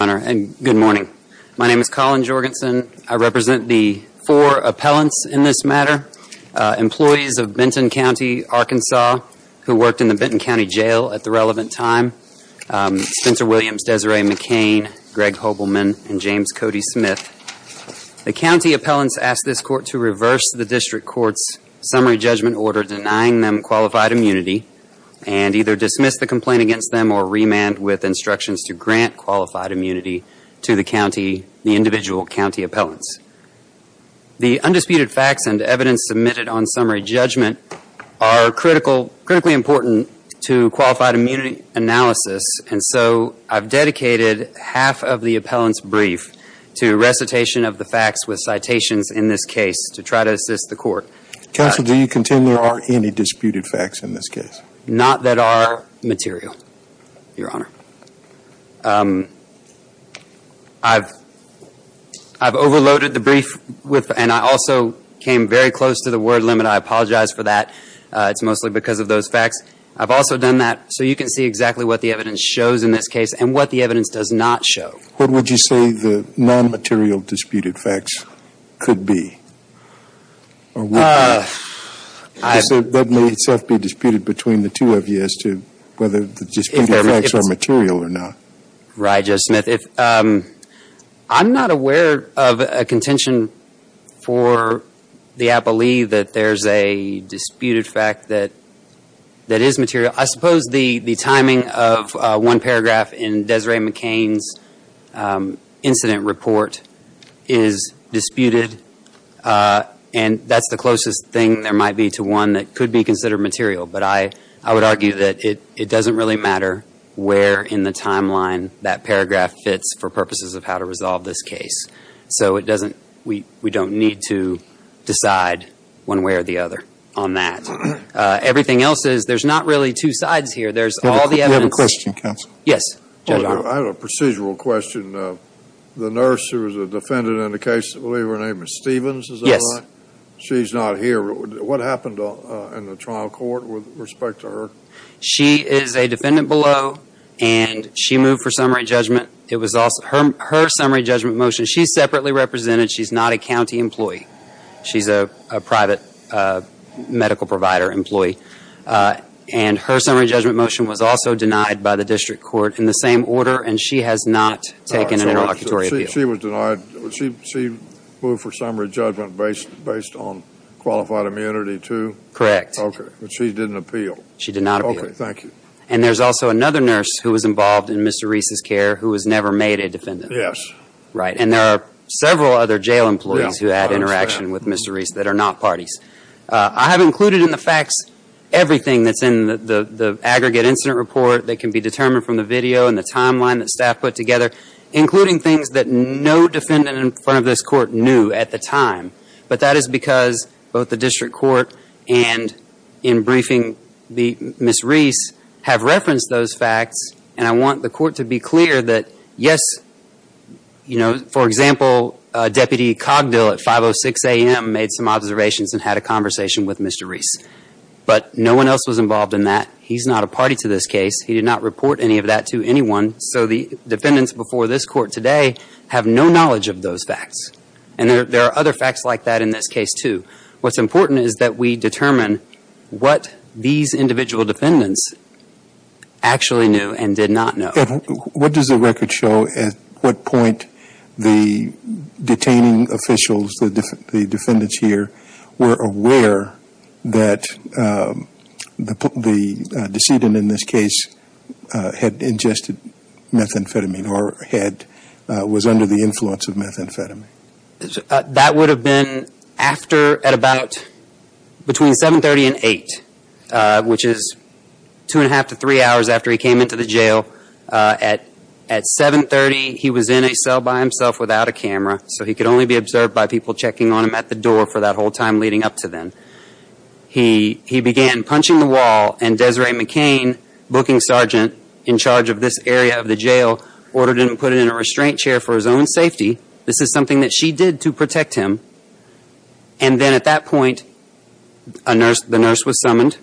Good morning. My name is Colin Jorgensen. I represent the four appellants in this matter, employees of Benton County, Arkansas, who worked in the Benton County Jail at the relevant time, Spencer Williams, Desiree McCain, Greg Hobelman, and James Cody Smith. The county appellants asked this Court to reverse the District Court's summary judgment order denying them qualified immunity and either dismiss the complaint against them or remand with instructions to grant qualified immunity to the individual county appellants. The undisputed facts and evidence submitted on summary judgment are critically important to qualified immunity analysis, and so I've dedicated half of the appellant's brief to recitation of the facts with citations in this case to try to assist the Court. Counsel, do you contend there are any disputed facts in this case? Not that are material, Your Honor. I've overloaded the brief with, and I also came very close to the word limit. I apologize for that. It's mostly because of those facts. I've also done that so you can see exactly what the evidence shows in this case and what the evidence does not show. What would you say the non-material disputed facts could be? That may itself be disputed between the two of you as to whether the disputed facts are material or not. Right, Judge Smith. I'm not aware of a contention for the appellee that there's a disputed fact that is material. I suppose the timing of one paragraph in Desiree McCain's incident report is disputed, and that's the closest thing there might be to one that could be considered material. But I would argue that it doesn't really matter where in the timeline that paragraph fits for purposes of how to resolve this case. So we don't need to decide one way or the other on that. Everything else is, there's not really two sides here. There's all the evidence. We have a question, counsel. Yes, Judge Arnold. I have a procedural question. The nurse who was a defendant in the case, I believe her name was Stevens, is that right? Yes. She's not here. What happened in the trial court with respect to her? She is a defendant below, and she moved for summary judgment. It was her summary judgment motion. She's separately represented. She's not a county employee. She's a private medical provider employee. And her summary judgment motion was also denied by the district court in the same order, and she has not taken an interlocutory appeal. She was denied. She moved for summary judgment based on qualified immunity, too? Correct. Okay. But she didn't appeal. She did not appeal. Okay. Thank you. And there's also another nurse who was involved in Mr. Reese's care who was never made a defendant. Yes. Right. And there are several other jail employees who had interaction with Mr. Reese that are not parties. I have included in the facts everything that's in the aggregate incident report that can be determined from the video and the timeline that staff put together, including things that no defendant in front of this court knew at the time. But that is because both the district court and in briefing Ms. Reese have referenced those facts, and I want the court to be clear that, yes, you know, for example, Deputy Cogdill at 5.06 a.m. made some observations and had a conversation with Mr. Reese. But no one else was involved in that. He's not a party to this case. He did not report any of that to anyone. So the defendants before this court today have no knowledge of those facts. And there are other facts like that in this case, too. What's important is that we determine what these individual defendants actually knew and did not know. What does the record show at what point the detaining officials, the defendants here, were aware that the decedent in this case had ingested methamphetamine or was under the influence of methamphetamine? That would have been after at about between 7.30 and 8.00, which is two and a half to three. He came into the jail at 7.30. He was in a cell by himself without a camera, so he could only be observed by people checking on him at the door for that whole time leading up to then. He began punching the wall, and Desiree McCain, booking sergeant in charge of this area of the jail, ordered him to put him in a restraint chair for his own safety. This is something that she did to protect him. And then at that point, the nurse was there, and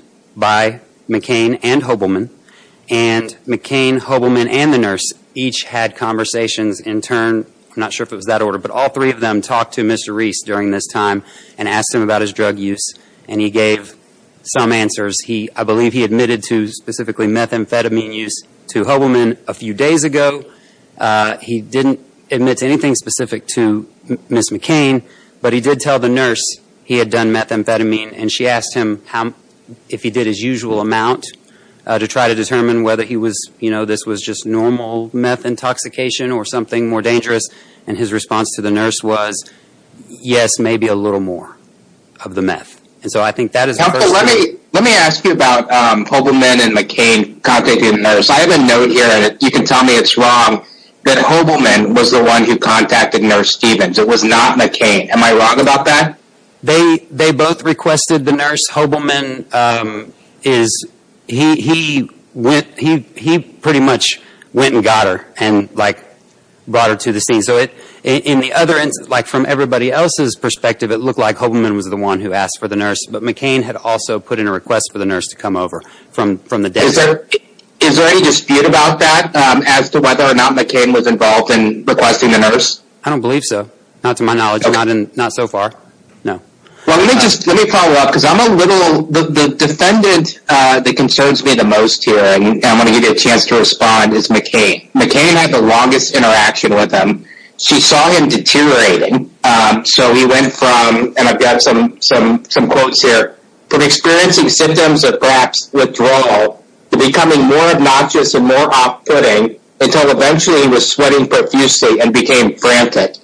McCain, Hobelman, and the nurse each had conversations in turn. I'm not sure if it was that order, but all three of them talked to Mr. Reese during this time and asked him about his drug use, and he gave some answers. I believe he admitted to specifically methamphetamine use to Hobelman a few days ago. He didn't admit to anything specific to Ms. McCain, but he did tell the nurse he had done methamphetamine, and she asked him if he did his usual amount to try to determine whether this was just normal meth intoxication or something more dangerous, and his response to the nurse was, yes, maybe a little more of the meth. Let me ask you about Hobelman and McCain contacting the nurse. I have a note here, you can tell me it's wrong, that Hobelman was the one who contacted Nurse Stevens, it was not McCain. Am I wrong about that? They both requested the nurse. Hobelman is, he pretty much went and got her and brought her to the scene. From everybody else's perspective, it looked like Hobelman was the one who asked for the nurse, but McCain had also put in a request for the nurse to come over from the desk. Is there any dispute about that as to whether or not McCain was involved in requesting the nurse? I don't believe so. Not to my knowledge, not so far. Well, let me just, let me follow up, because I'm a little, the defendant that concerns me the most here, and I'm going to give you a chance to respond, is McCain. McCain had the longest interaction with him. She saw him deteriorating, so he went from, and I've got some quotes here, from experiencing symptoms of perhaps withdrawal to becoming more obnoxious and more off-putting until eventually he was sweating profusely and became frantic.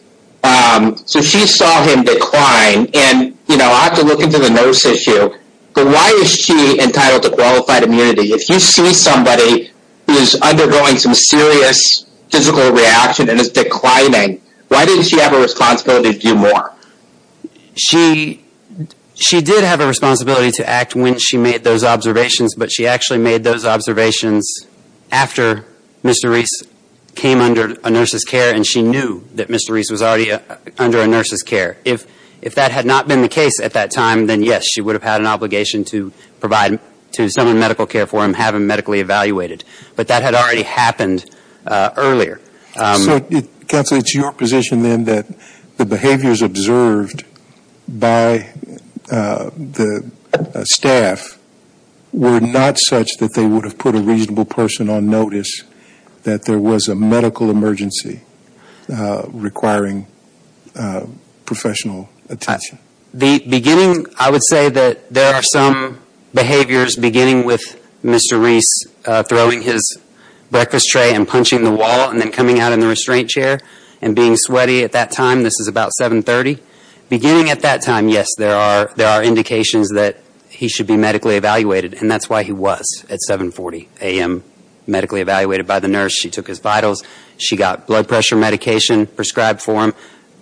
So she saw him decline, and you know, I have to look into the nurse issue, but why is she entitled to qualified immunity? If you see somebody who is undergoing some serious physical reaction and is declining, why didn't she have a responsibility to do more? She, she did have a responsibility to act when she made those observations, but she actually made those observations after Mr. Reese came under a nurse's care, and she knew that Mr. Reese was already under a nurse's care. If, if that had not been the case at that time, then yes, she would have had an obligation to provide, to summon medical care for him, have him medically evaluated. But that had already happened earlier. So it, Kathleen, it's your position then that the behaviors observed by the staff were not such that they would have put a reasonable person on notice that there was a medical emergency requiring professional attention? The beginning, I would say that there are some behaviors beginning with Mr. Reese throwing his out in the restraint chair and being sweaty at that time. This is about 7.30. Beginning at that time, yes, there are, there are indications that he should be medically evaluated, and that's why he was at 7.40 a.m. medically evaluated by the nurse. She took his vitals. She got blood pressure medication prescribed for him.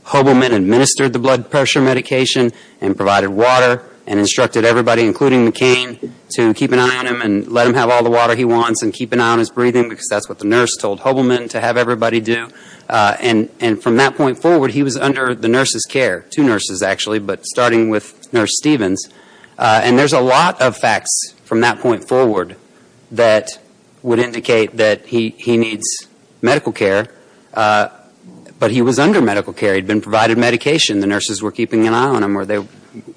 Hobelman administered the blood pressure medication and provided water and instructed everybody, including McCain, to keep an eye on him and let him have all the water he wants and keep an eye on his breathing, because that's what the nurse told Hobelman, to have everybody do. And from that point forward, he was under the nurse's care, two nurses, actually, but starting with Nurse Stevens. And there's a lot of facts from that point forward that would indicate that he needs medical care, but he was under medical care. He'd been provided medication. The nurses were keeping an eye on him, or they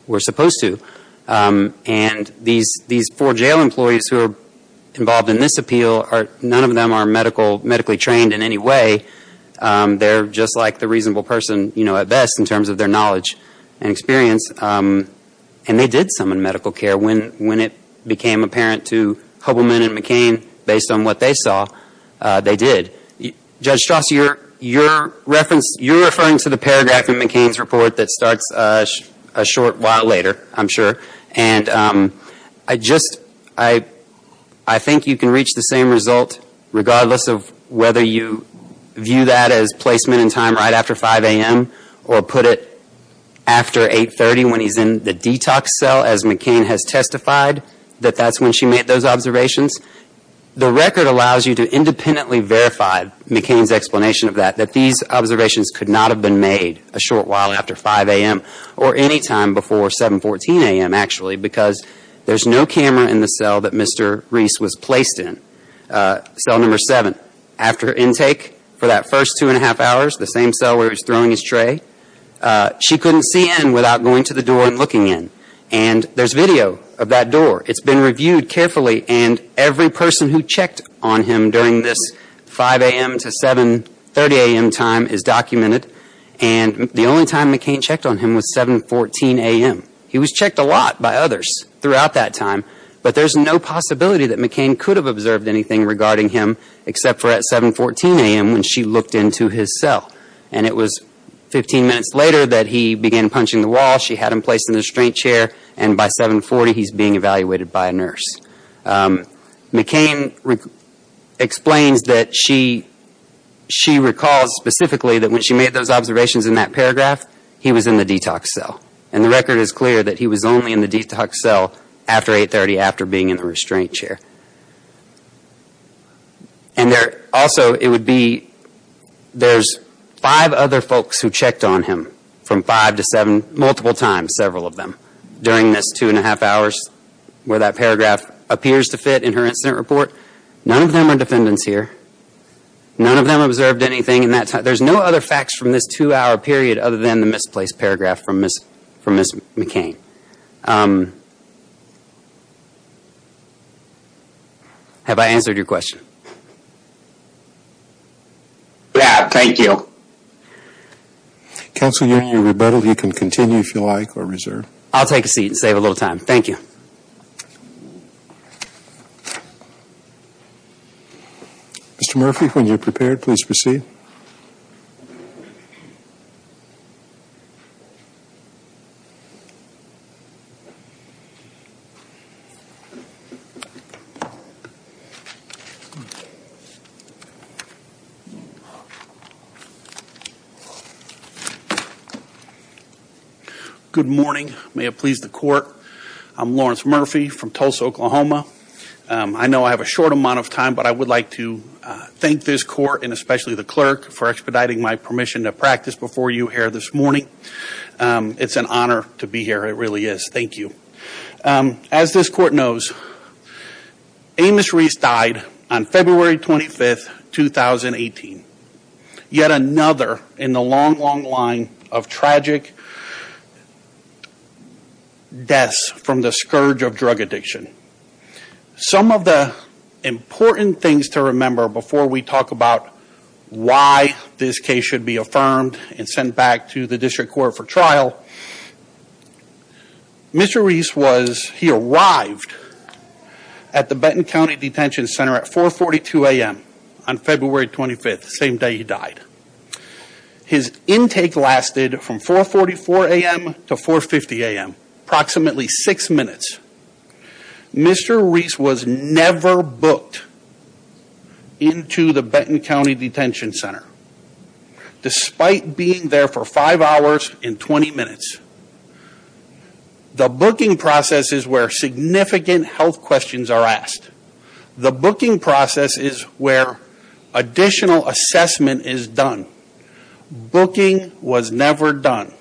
were supposed to. And these four jail employees who are involved in this appeal are, none of them are medical, medically trained in any way. They're just like the reasonable person, you know, at best, in terms of their knowledge and experience. And they did summon medical care when, when it became apparent to Hobelman and McCain, based on what they saw, they did. Judge Strauss, you're, you're reference, you're referring to the paragraph in McCain's report that starts a short while later, I'm sure. And I just, I, I think you can reach the same result, regardless of whether you view that as placement in time right after 5 a.m. or put it after 8.30 when he's in the detox cell, as McCain has testified, that that's when she made those observations. The record allows you to independently verify McCain's explanation of that, that these observations could not have been made a short before 7.14 a.m., actually, because there's no camera in the cell that Mr. Reese was placed in. Cell number seven. After intake, for that first two and a half hours, the same cell where he was throwing his tray, she couldn't see in without going to the door and looking in. And there's video of that door. It's been reviewed carefully, and every person who checked on him during this 5 a.m. to 7.30 a.m. time is documented. And the only time McCain checked on him was 7.14 a.m. He was checked a lot by others throughout that time, but there's no possibility that McCain could have observed anything regarding him except for at 7.14 a.m. when she looked into his cell. And it was 15 minutes later that he began punching the wall. She had him placed in the and by 7.40 he's being evaluated by a nurse. McCain explains that she recalls specifically that when she made those observations in that paragraph, he was in the detox cell. And the record is clear that he was only in the detox cell after 8.30, after being in the restraint chair. And there also, it would be, there's five other folks who checked on him from 5 to 7, multiple times, several of them, during this 2.5 hours where that paragraph appears to fit in her incident report. None of them are defendants here. None of them observed anything in that time. There's no other facts from this two-hour period other than the misplaced paragraph from Ms. McCain. Have I answered your question? Yeah, thank you. Counsel, you're rebuttaled. You can continue if you like or reserve. I'll take a seat and save a little time. Thank you. Mr. Murphy, when you're prepared, please proceed. Good morning. May it please the court. I'm Lawrence Murphy from Tulsa, Oklahoma. I know I have a short amount of time, but I would like to thank this court and especially the clerk for expediting my permission to practice before you here this morning. It's an honor to be here. It really is. Thank you. As this court knows, Amos Reese died on February 25, 2018. Yet another in the long, long line of tragic deaths from the scourge of drug addiction. Some of the important things to remember before we talk about why this case should be affirmed and sent back to the district court for trial. Mr. Reese was, he arrived at the Benton County Detention Center at 4.42 a.m. on February 25th, same day he died. His intake lasted from 4.44 a.m. to 4.50 a.m., approximately six minutes. Mr. Reese was never booked into the Benton County Detention Center despite being there for five hours and 20 minutes. The booking process is where significant health questions are asked. The booking process is where additional assessment is done. Booking was never done.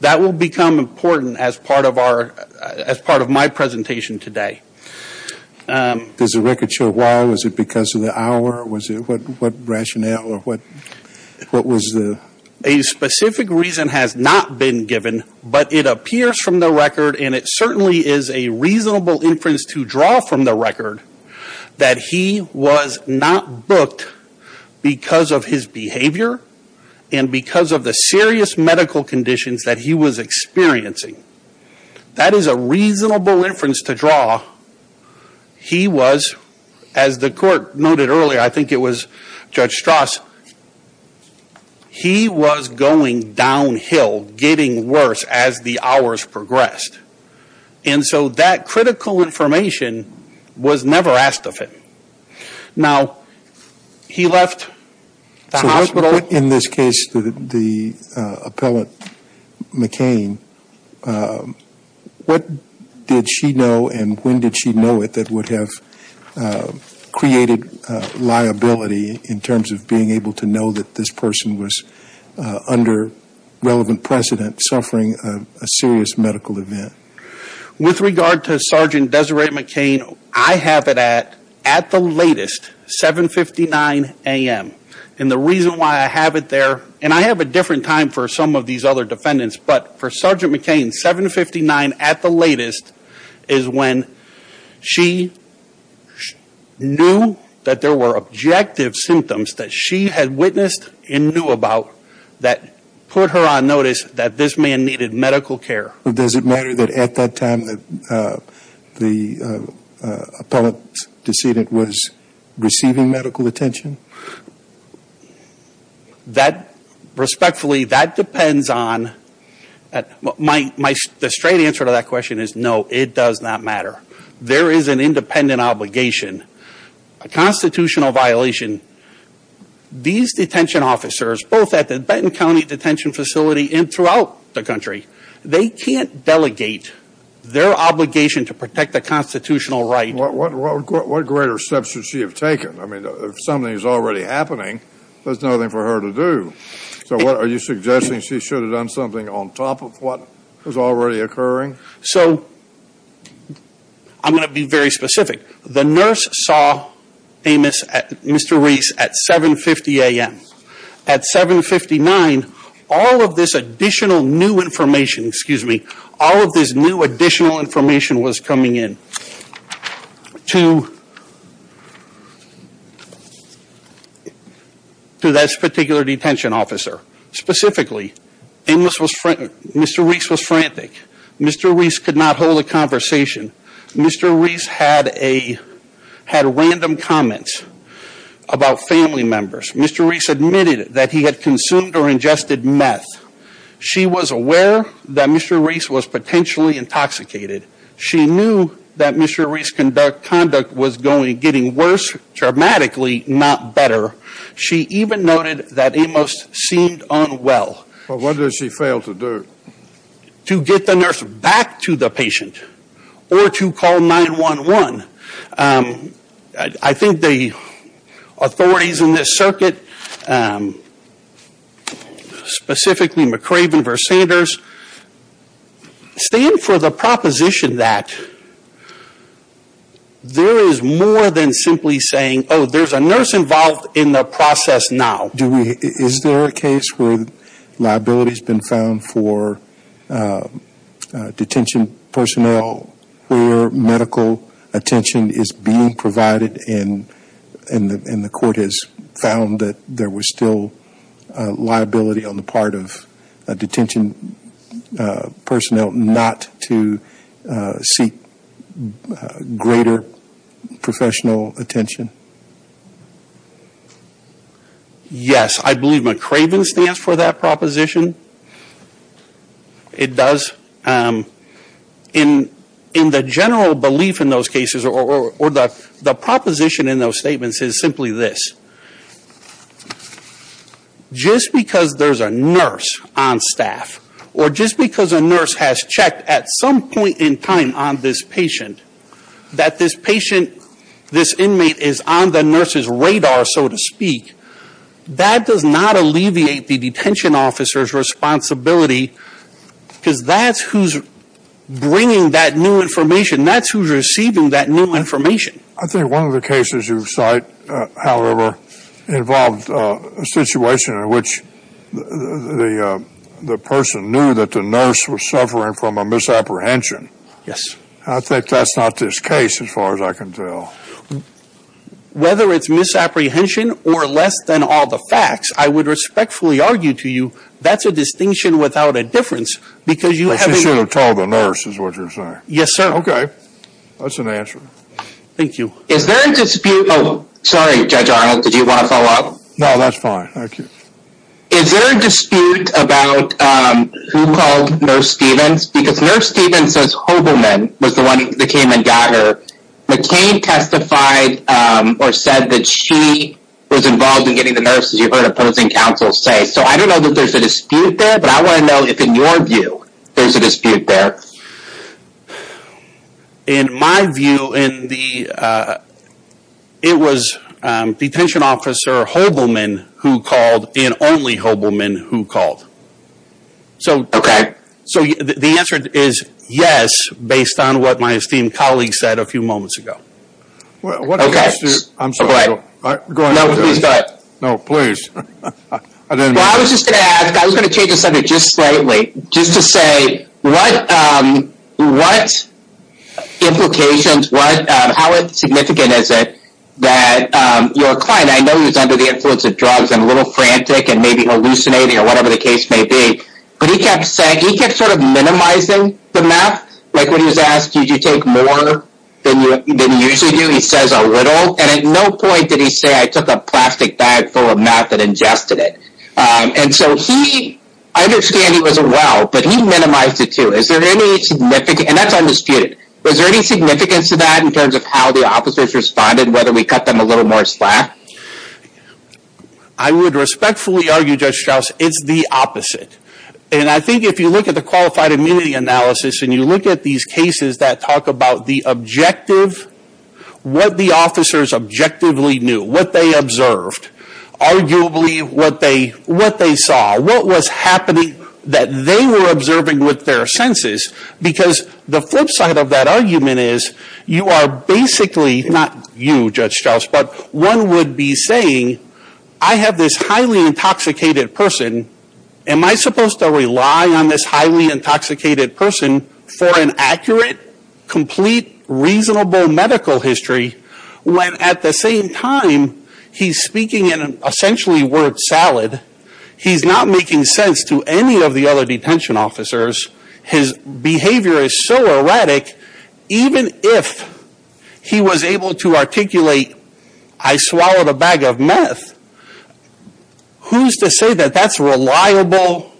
That will become important as part of our, as part of my presentation today. Is the record sure why? Was it because of the hour? What rationale? A specific reason has not been given, but it appears from the record and it certainly is a record, that he was not booked because of his behavior and because of the serious medical conditions that he was experiencing. That is a reasonable inference to draw. He was, as the court noted earlier, I think it was Judge Strauss, he was going downhill, getting worse as the hours progressed. And so that critical information was never asked of him. Now, he left the hospital. So what in this case, the appellate McCain, what did she know and when did she know it that would have created liability in terms of being able to know that this person was under relevant precedent suffering a serious medical event? With regard to Sergeant Desiree McCain, I have it at the latest, 759 AM. And the reason why I have it there, and I have a different time for some of these other defendants, but for Sergeant McCain, 759 at the latest is when she knew that there were objective symptoms that she had witnessed and knew about that put her on notice that this man needed medical care. Does it matter that at that time the appellate decedent was receiving medical attention? That, respectfully, that depends on, the straight answer to that question is no, it does not matter. There is an independent obligation, a constitutional violation. These detention officers, both at the Benton County Detention Facility and throughout the country, they can't delegate their obligation to protect the constitutional right. What greater steps should she have taken? I mean, if something is already happening, there's nothing for her to do. So what, are you suggesting she should have done something on top of what was already occurring? So I'm going to be very specific. The nurse saw Amos, Mr. Reese at 750 AM. At 759, all of this additional new information, excuse me, all of this new additional information was coming in to this particular detention officer. Specifically, Mr. Reese was frantic. Mr. Reese could not hold a conversation. Mr. Reese had random comments about family members. Mr. Reese admitted that he had consumed or ingested meth. She was aware that Mr. Reese was potentially intoxicated. She knew that Mr. Reese conduct was getting worse, dramatically, not better. She even noted that Amos seemed unwell. But what did she fail to do? To get the nurse back to the patient or to call 911. I think the authorities in this circuit, specifically McRaven versus Sanders, stand for the proposition that there is more than simply saying, oh, there's a nurse involved in the process now. Do we, is there a case where liability has been found for that there was still liability on the part of detention personnel not to seek greater professional attention? Yes, I believe McRaven stands for that proposition. It does. In the general belief in those cases or the proposition in those statements is simply this. That just because there's a nurse on staff or just because a nurse has checked at some point in time on this patient, that this patient, this inmate is on the nurse's radar, so to speak, that does not alleviate the detention officer's responsibility because that's who's bringing that new information. That's who's receiving that new information. I think one of the cases you cite, however, involved a situation in which the person knew that the nurse was suffering from a misapprehension. Yes. I think that's not this case as far as I can tell. Whether it's misapprehension or less than all the facts, I would respectfully argue to you that's a distinction without a difference because you have... She should have told the nurse is what you're saying. Yes, sir. Okay. That's an answer. Thank you. Is there a dispute? Oh, sorry, Judge Arnold. Did you want to follow up? No, that's fine. Thank you. Is there a dispute about who called Nurse Stevens? Because Nurse Stevens says Hobelman was the one that came and got her. McCain testified or said that she was involved in getting the nurse, as you heard opposing counsel say. So I don't know that there's a dispute there, but I want to know if in your view there's a dispute there. No. In my view, it was detention officer Hobelman who called and only Hobelman who called. Okay. So the answer is yes, based on what my esteemed colleague said a few moments ago. What I'm supposed to... I'm sorry. Go ahead. No, please go ahead. No, please. I didn't... Well, I was just going to ask, I was going to change the subject just slightly, just to say what implications, how significant is it that your client, I know he was under the influence of drugs and a little frantic and maybe hallucinating or whatever the case may be, but he kept saying, he kept sort of minimizing the meth. Like when he was asked, did you take more than you usually do? He says a little. And at no point did he say, I took a plastic bag full of meth and ingested it. And so he, I understand he wasn't well, but he minimized it too. Is there any significant... And that's undisputed. Was there any significance to that in terms of how the officers responded, whether we cut them a little more slack? I would respectfully argue, Judge Strauss, it's the opposite. And I think if you look at the qualified immunity analysis and you look at these cases that talk about the objective, what the officers objectively knew, what they observed, arguably what they saw, what was happening that they were observing with their senses. Because the flip side of that argument is, you are basically, not you, Judge Strauss, but one would be saying, I have this highly intoxicated person, am I supposed to rely on this highly intoxicated person for an accurate, complete, reasonable medical history, when at the same time he's speaking in an essentially word salad? He's not making sense to any of the other detention officers. His behavior is so erratic, even if he was able to articulate, I swallowed a bag of meth, who's to say that that's reliable?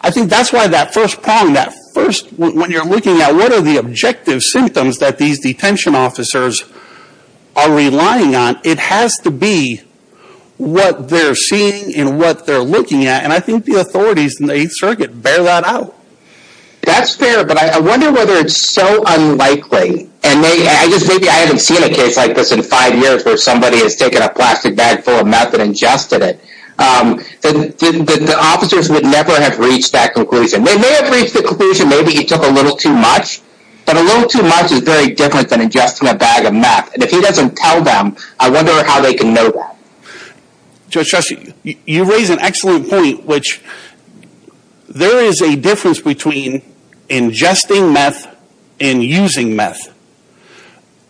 I think that's why that first prong, when you're looking at what are the objective symptoms that these detention officers are relying on, it has to be what they're seeing and what they're looking at. And I think the authorities in the 8th Circuit bear that out. That's fair, but I wonder whether it's so unlikely, and maybe I haven't seen a 5 years where somebody has taken a plastic bag full of meth and ingested it, that the officers would never have reached that conclusion. They may have reached the conclusion that maybe he took a little too much, but a little too much is very different than ingesting a bag of meth. And if he doesn't tell them, I wonder how they can know that. Judge Strauss, you raise an excellent point, which there is a difference between ingesting meth and using meth.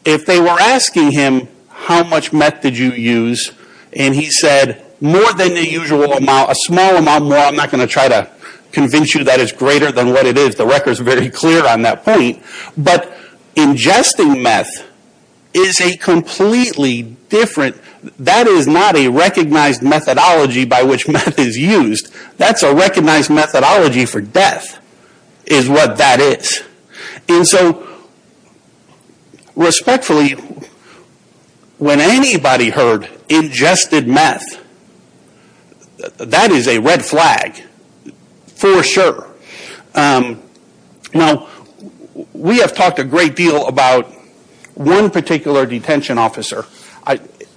If they were asking him, how much meth did you use, and he said, more than the usual amount, a small amount more, I'm not going to try to convince you that it's greater than what it is. The record's very clear on that point. But ingesting meth is a completely different, that is not a recognized methodology by which meth is used. That's a recognized methodology for death, is what that is. And so, respectfully, when anybody heard ingested meth, that is a red flag, for sure. Now, we have talked a great deal about one particular detention officer.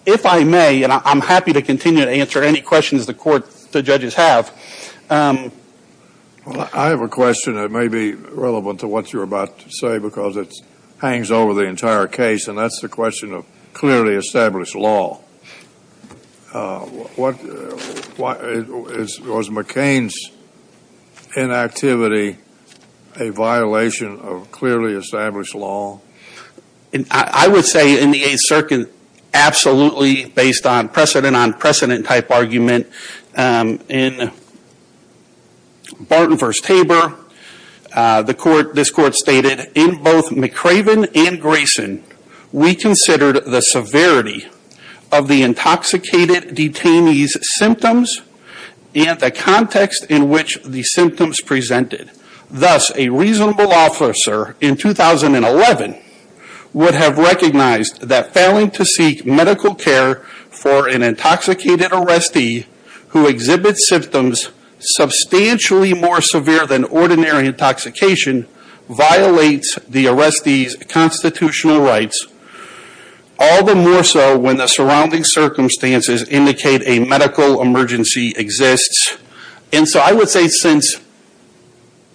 If I may, and I'm happy to continue to answer any questions the judges have. Well, I have a question that may be relevant to what you're about to say, because it hangs over the entire case, and that's the question of clearly established law. Was McCain's inactivity a violation of clearly established law? I would say in the 8th Circuit, absolutely, based on precedent on precedent type argument, in Barton v. Tabor, this court stated, in both McRaven and Grayson, we considered the severity of the intoxicated detainee's symptoms and the context in which the symptoms presented. Thus, a reasonable officer in 2011 would have recognized that failing to seek medical care for an intoxicated arrestee who exhibits symptoms substantially more severe than ordinary intoxication violates the arrestee's constitutional rights, all the more so when the surrounding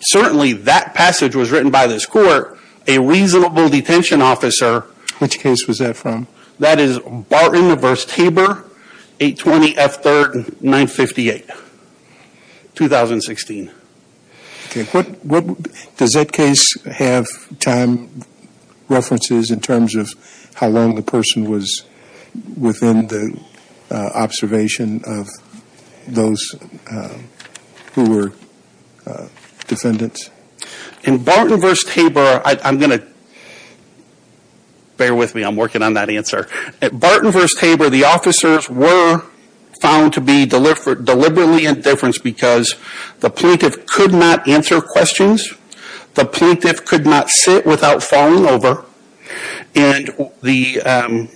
Certainly, that passage was written by this court, a reasonable detention officer. Which case was that from? That is Barton v. Tabor, 820 F3rd 958, 2016. Does that case have time references in terms of how long the person was within the observation of those who were defendants? In Barton v. Tabor, I'm going to bear with me, I'm working on that answer. At Barton v. Tabor, the officers were found to be deliberately indifferent because the plaintiff could not answer questions, the plaintiff could not sit without falling over, and they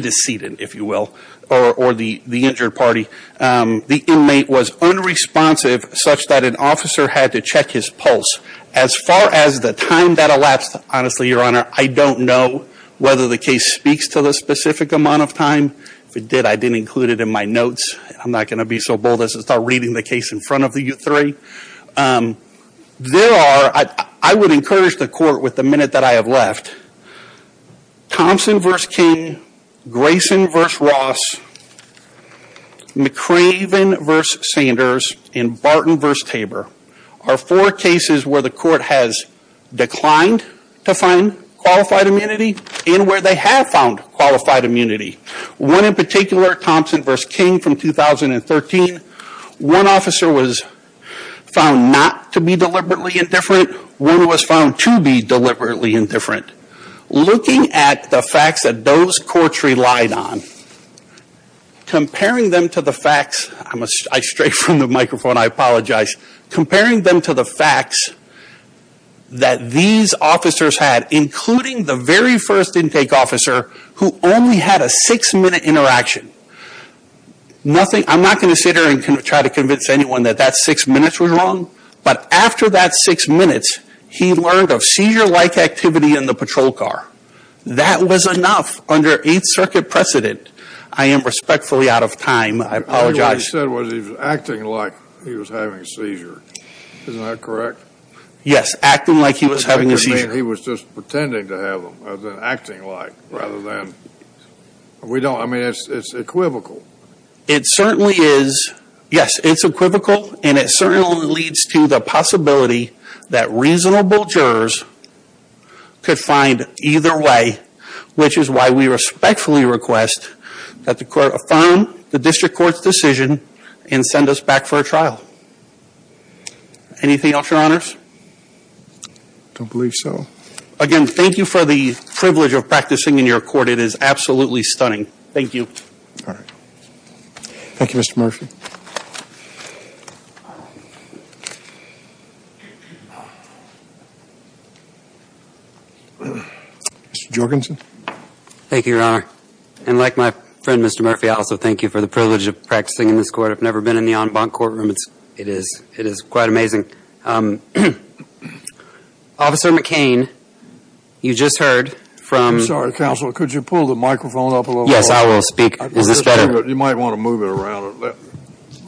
deceded, if you will, or the injured party. The inmate was unresponsive such that an officer had to check his pulse. As far as the time that elapsed, honestly, your honor, I don't know whether the case speaks to the specific amount of time. If it did, I didn't include it in my notes. I'm not going to be so bold as to start reading the case in front of you three. There are, I would encourage the court with the minute that I have left, Thompson v. King, Grayson v. Ross, McRaven v. Sanders, and Barton v. Tabor are four cases where the court has declined to find qualified immunity and where they have found qualified immunity. One in particular, Thompson v. King from 2013, one officer was found not to be deliberately indifferent. Looking at the facts that those courts relied on, comparing them to the facts, I stray from the microphone, I apologize, comparing them to the facts that these officers had, including the very first intake officer who only had a six-minute interaction. I'm not going to sit here and try to convince anyone that that six minutes was wrong, but after that six minutes, he learned of seizure-like activity in the patrol car. That was enough under Eighth Circuit precedent. I am respectfully out of time. I apologize. What he said was he was acting like he was having a seizure. Isn't that correct? Yes, acting like he was having a seizure. He was just pretending to have them, as in acting like, rather than, we don't, I mean, it's equivocal. It certainly is, yes, it's equivocal, and it certainly leads to the possibility that reasonable jurors could find either way, which is why we respectfully request that the court affirm the district court's decision and send us back for a trial. Anything else, your honors? Don't believe so. Again, thank you for the privilege of practicing in your court. It is absolutely stunning. Thank you. All right. Thank you, Mr. Murphy. Mr. Jorgensen. Thank you, your honor. And like my friend, Mr. Murphy, I also thank you for the privilege of practicing in this court. I've never been in the en banc courtroom. It is quite amazing. Officer McCain, you just heard from- I'm sorry, counsel. Could you pull the microphone up a little? Yes, I will speak. Is this better? You might want to move it around a little.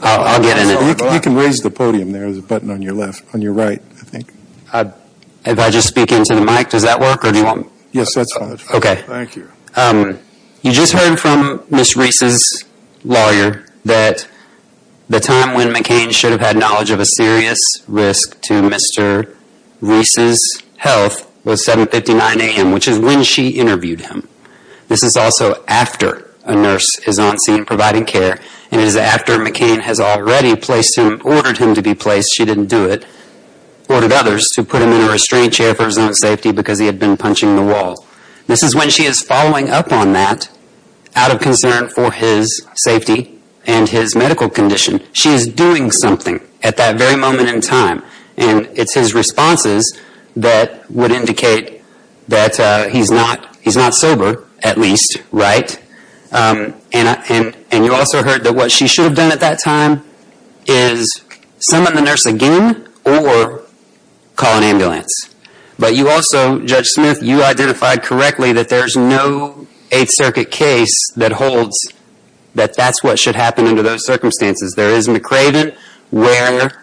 I'll get in it. You can raise the podium there. There's a button on your left, on your right, I think. If I just speak into the mic, does that work, or do you want- Yes, that's fine. Okay. Thank you. You just heard from Ms. Reese's lawyer that the time when McCain should have had knowledge of a serious risk to Mr. Reese's health was 759 AM, which is when she interviewed him. This is also after a nurse is on scene providing care, and it is after McCain has already placed him, ordered him to be placed, she didn't do it, ordered others to put him in a restraint chair for his own safety because he had been punching the wall. This is when she is following up on that out of concern for his safety and his medical condition. She is doing something at that very moment in time, and it's his responses that would at least, right? And you also heard that what she should have done at that time is summon the nurse again or call an ambulance. But you also, Judge Smith, you identified correctly that there's no Eighth Circuit case that holds that that's what should happen under those circumstances. There is McRaven where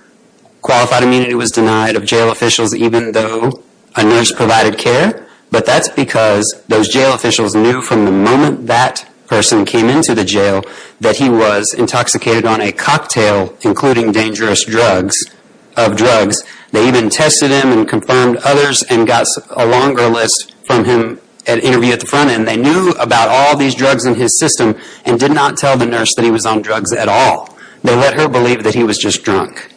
qualified immunity was denied of jail officials even though a from the moment that person came into the jail that he was intoxicated on a cocktail including dangerous drugs, of drugs. They even tested him and confirmed others and got a longer list from him, an interview at the front end. They knew about all these drugs in his system and did not tell the nurse that he was on drugs at all. They let her believe that he was just drunk.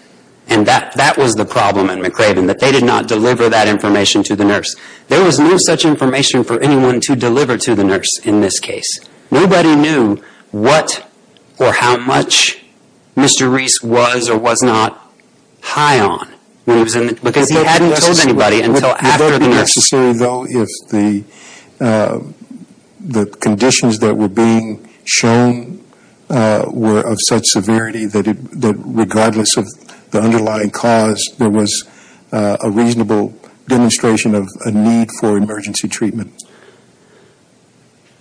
And that was the problem at McRaven, that they did not deliver that information to the nurse. There was no such information for anyone to deliver to the nurse in this case. Nobody knew what or how much Mr. Reese was or was not high on because he hadn't told anybody until after the nurse. Would that be necessary though if the conditions that were being shown were of such severity that regardless of the underlying cause there was a reasonable demonstration of a need for emergency treatment?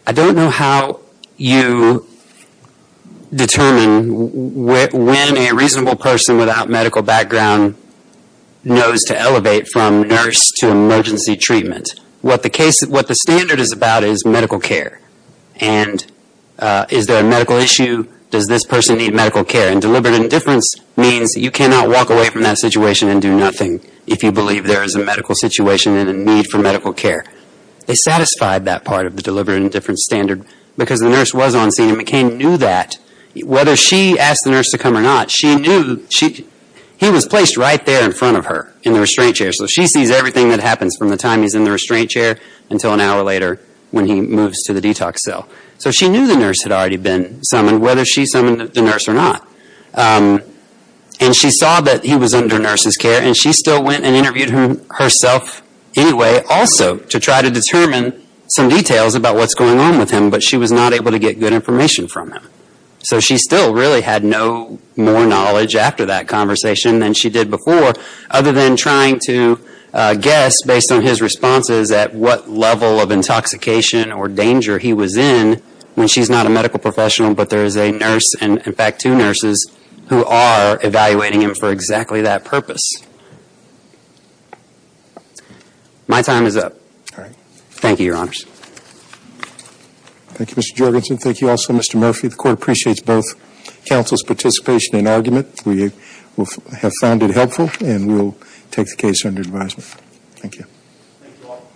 I don't know how you determine when a reasonable person without medical background knows to elevate from nurse to emergency treatment. What the standard is about is medical care. And is there a medical issue? Does this person need medical care? And deliberate indifference means you cannot walk away from that situation and do nothing if you believe there is a medical situation and a need for medical care. They satisfied that part of the deliberate indifference standard because the nurse was on scene and McCain knew that whether she asked the nurse to come or not, she knew he was placed right there in front of her in the restraint chair. So she sees everything that happens from the time he's in the restraint chair until an hour later when he moves to the detox cell. So she knew the nurse had already been summoned whether she summoned the nurse or not. And she saw that he was under nurse's care and she still went and interviewed him herself anyway also to try to determine some details about what's going on with him but she was not able to get good information from him. So she still really had no more knowledge after that conversation than she did before other than trying to guess based on his responses at what level of intoxication or danger he was in when she's not a medical professional but there is a nurse and in fact two nurses who are evaluating him for exactly that purpose. My time is up. All right. Thank you, your honors. Thank you, Mr. Jorgensen. Thank you also, Mr. Murphy. The court appreciates both counsel's participation and argument. We have found it helpful and we'll take the case under advisement. Thank you.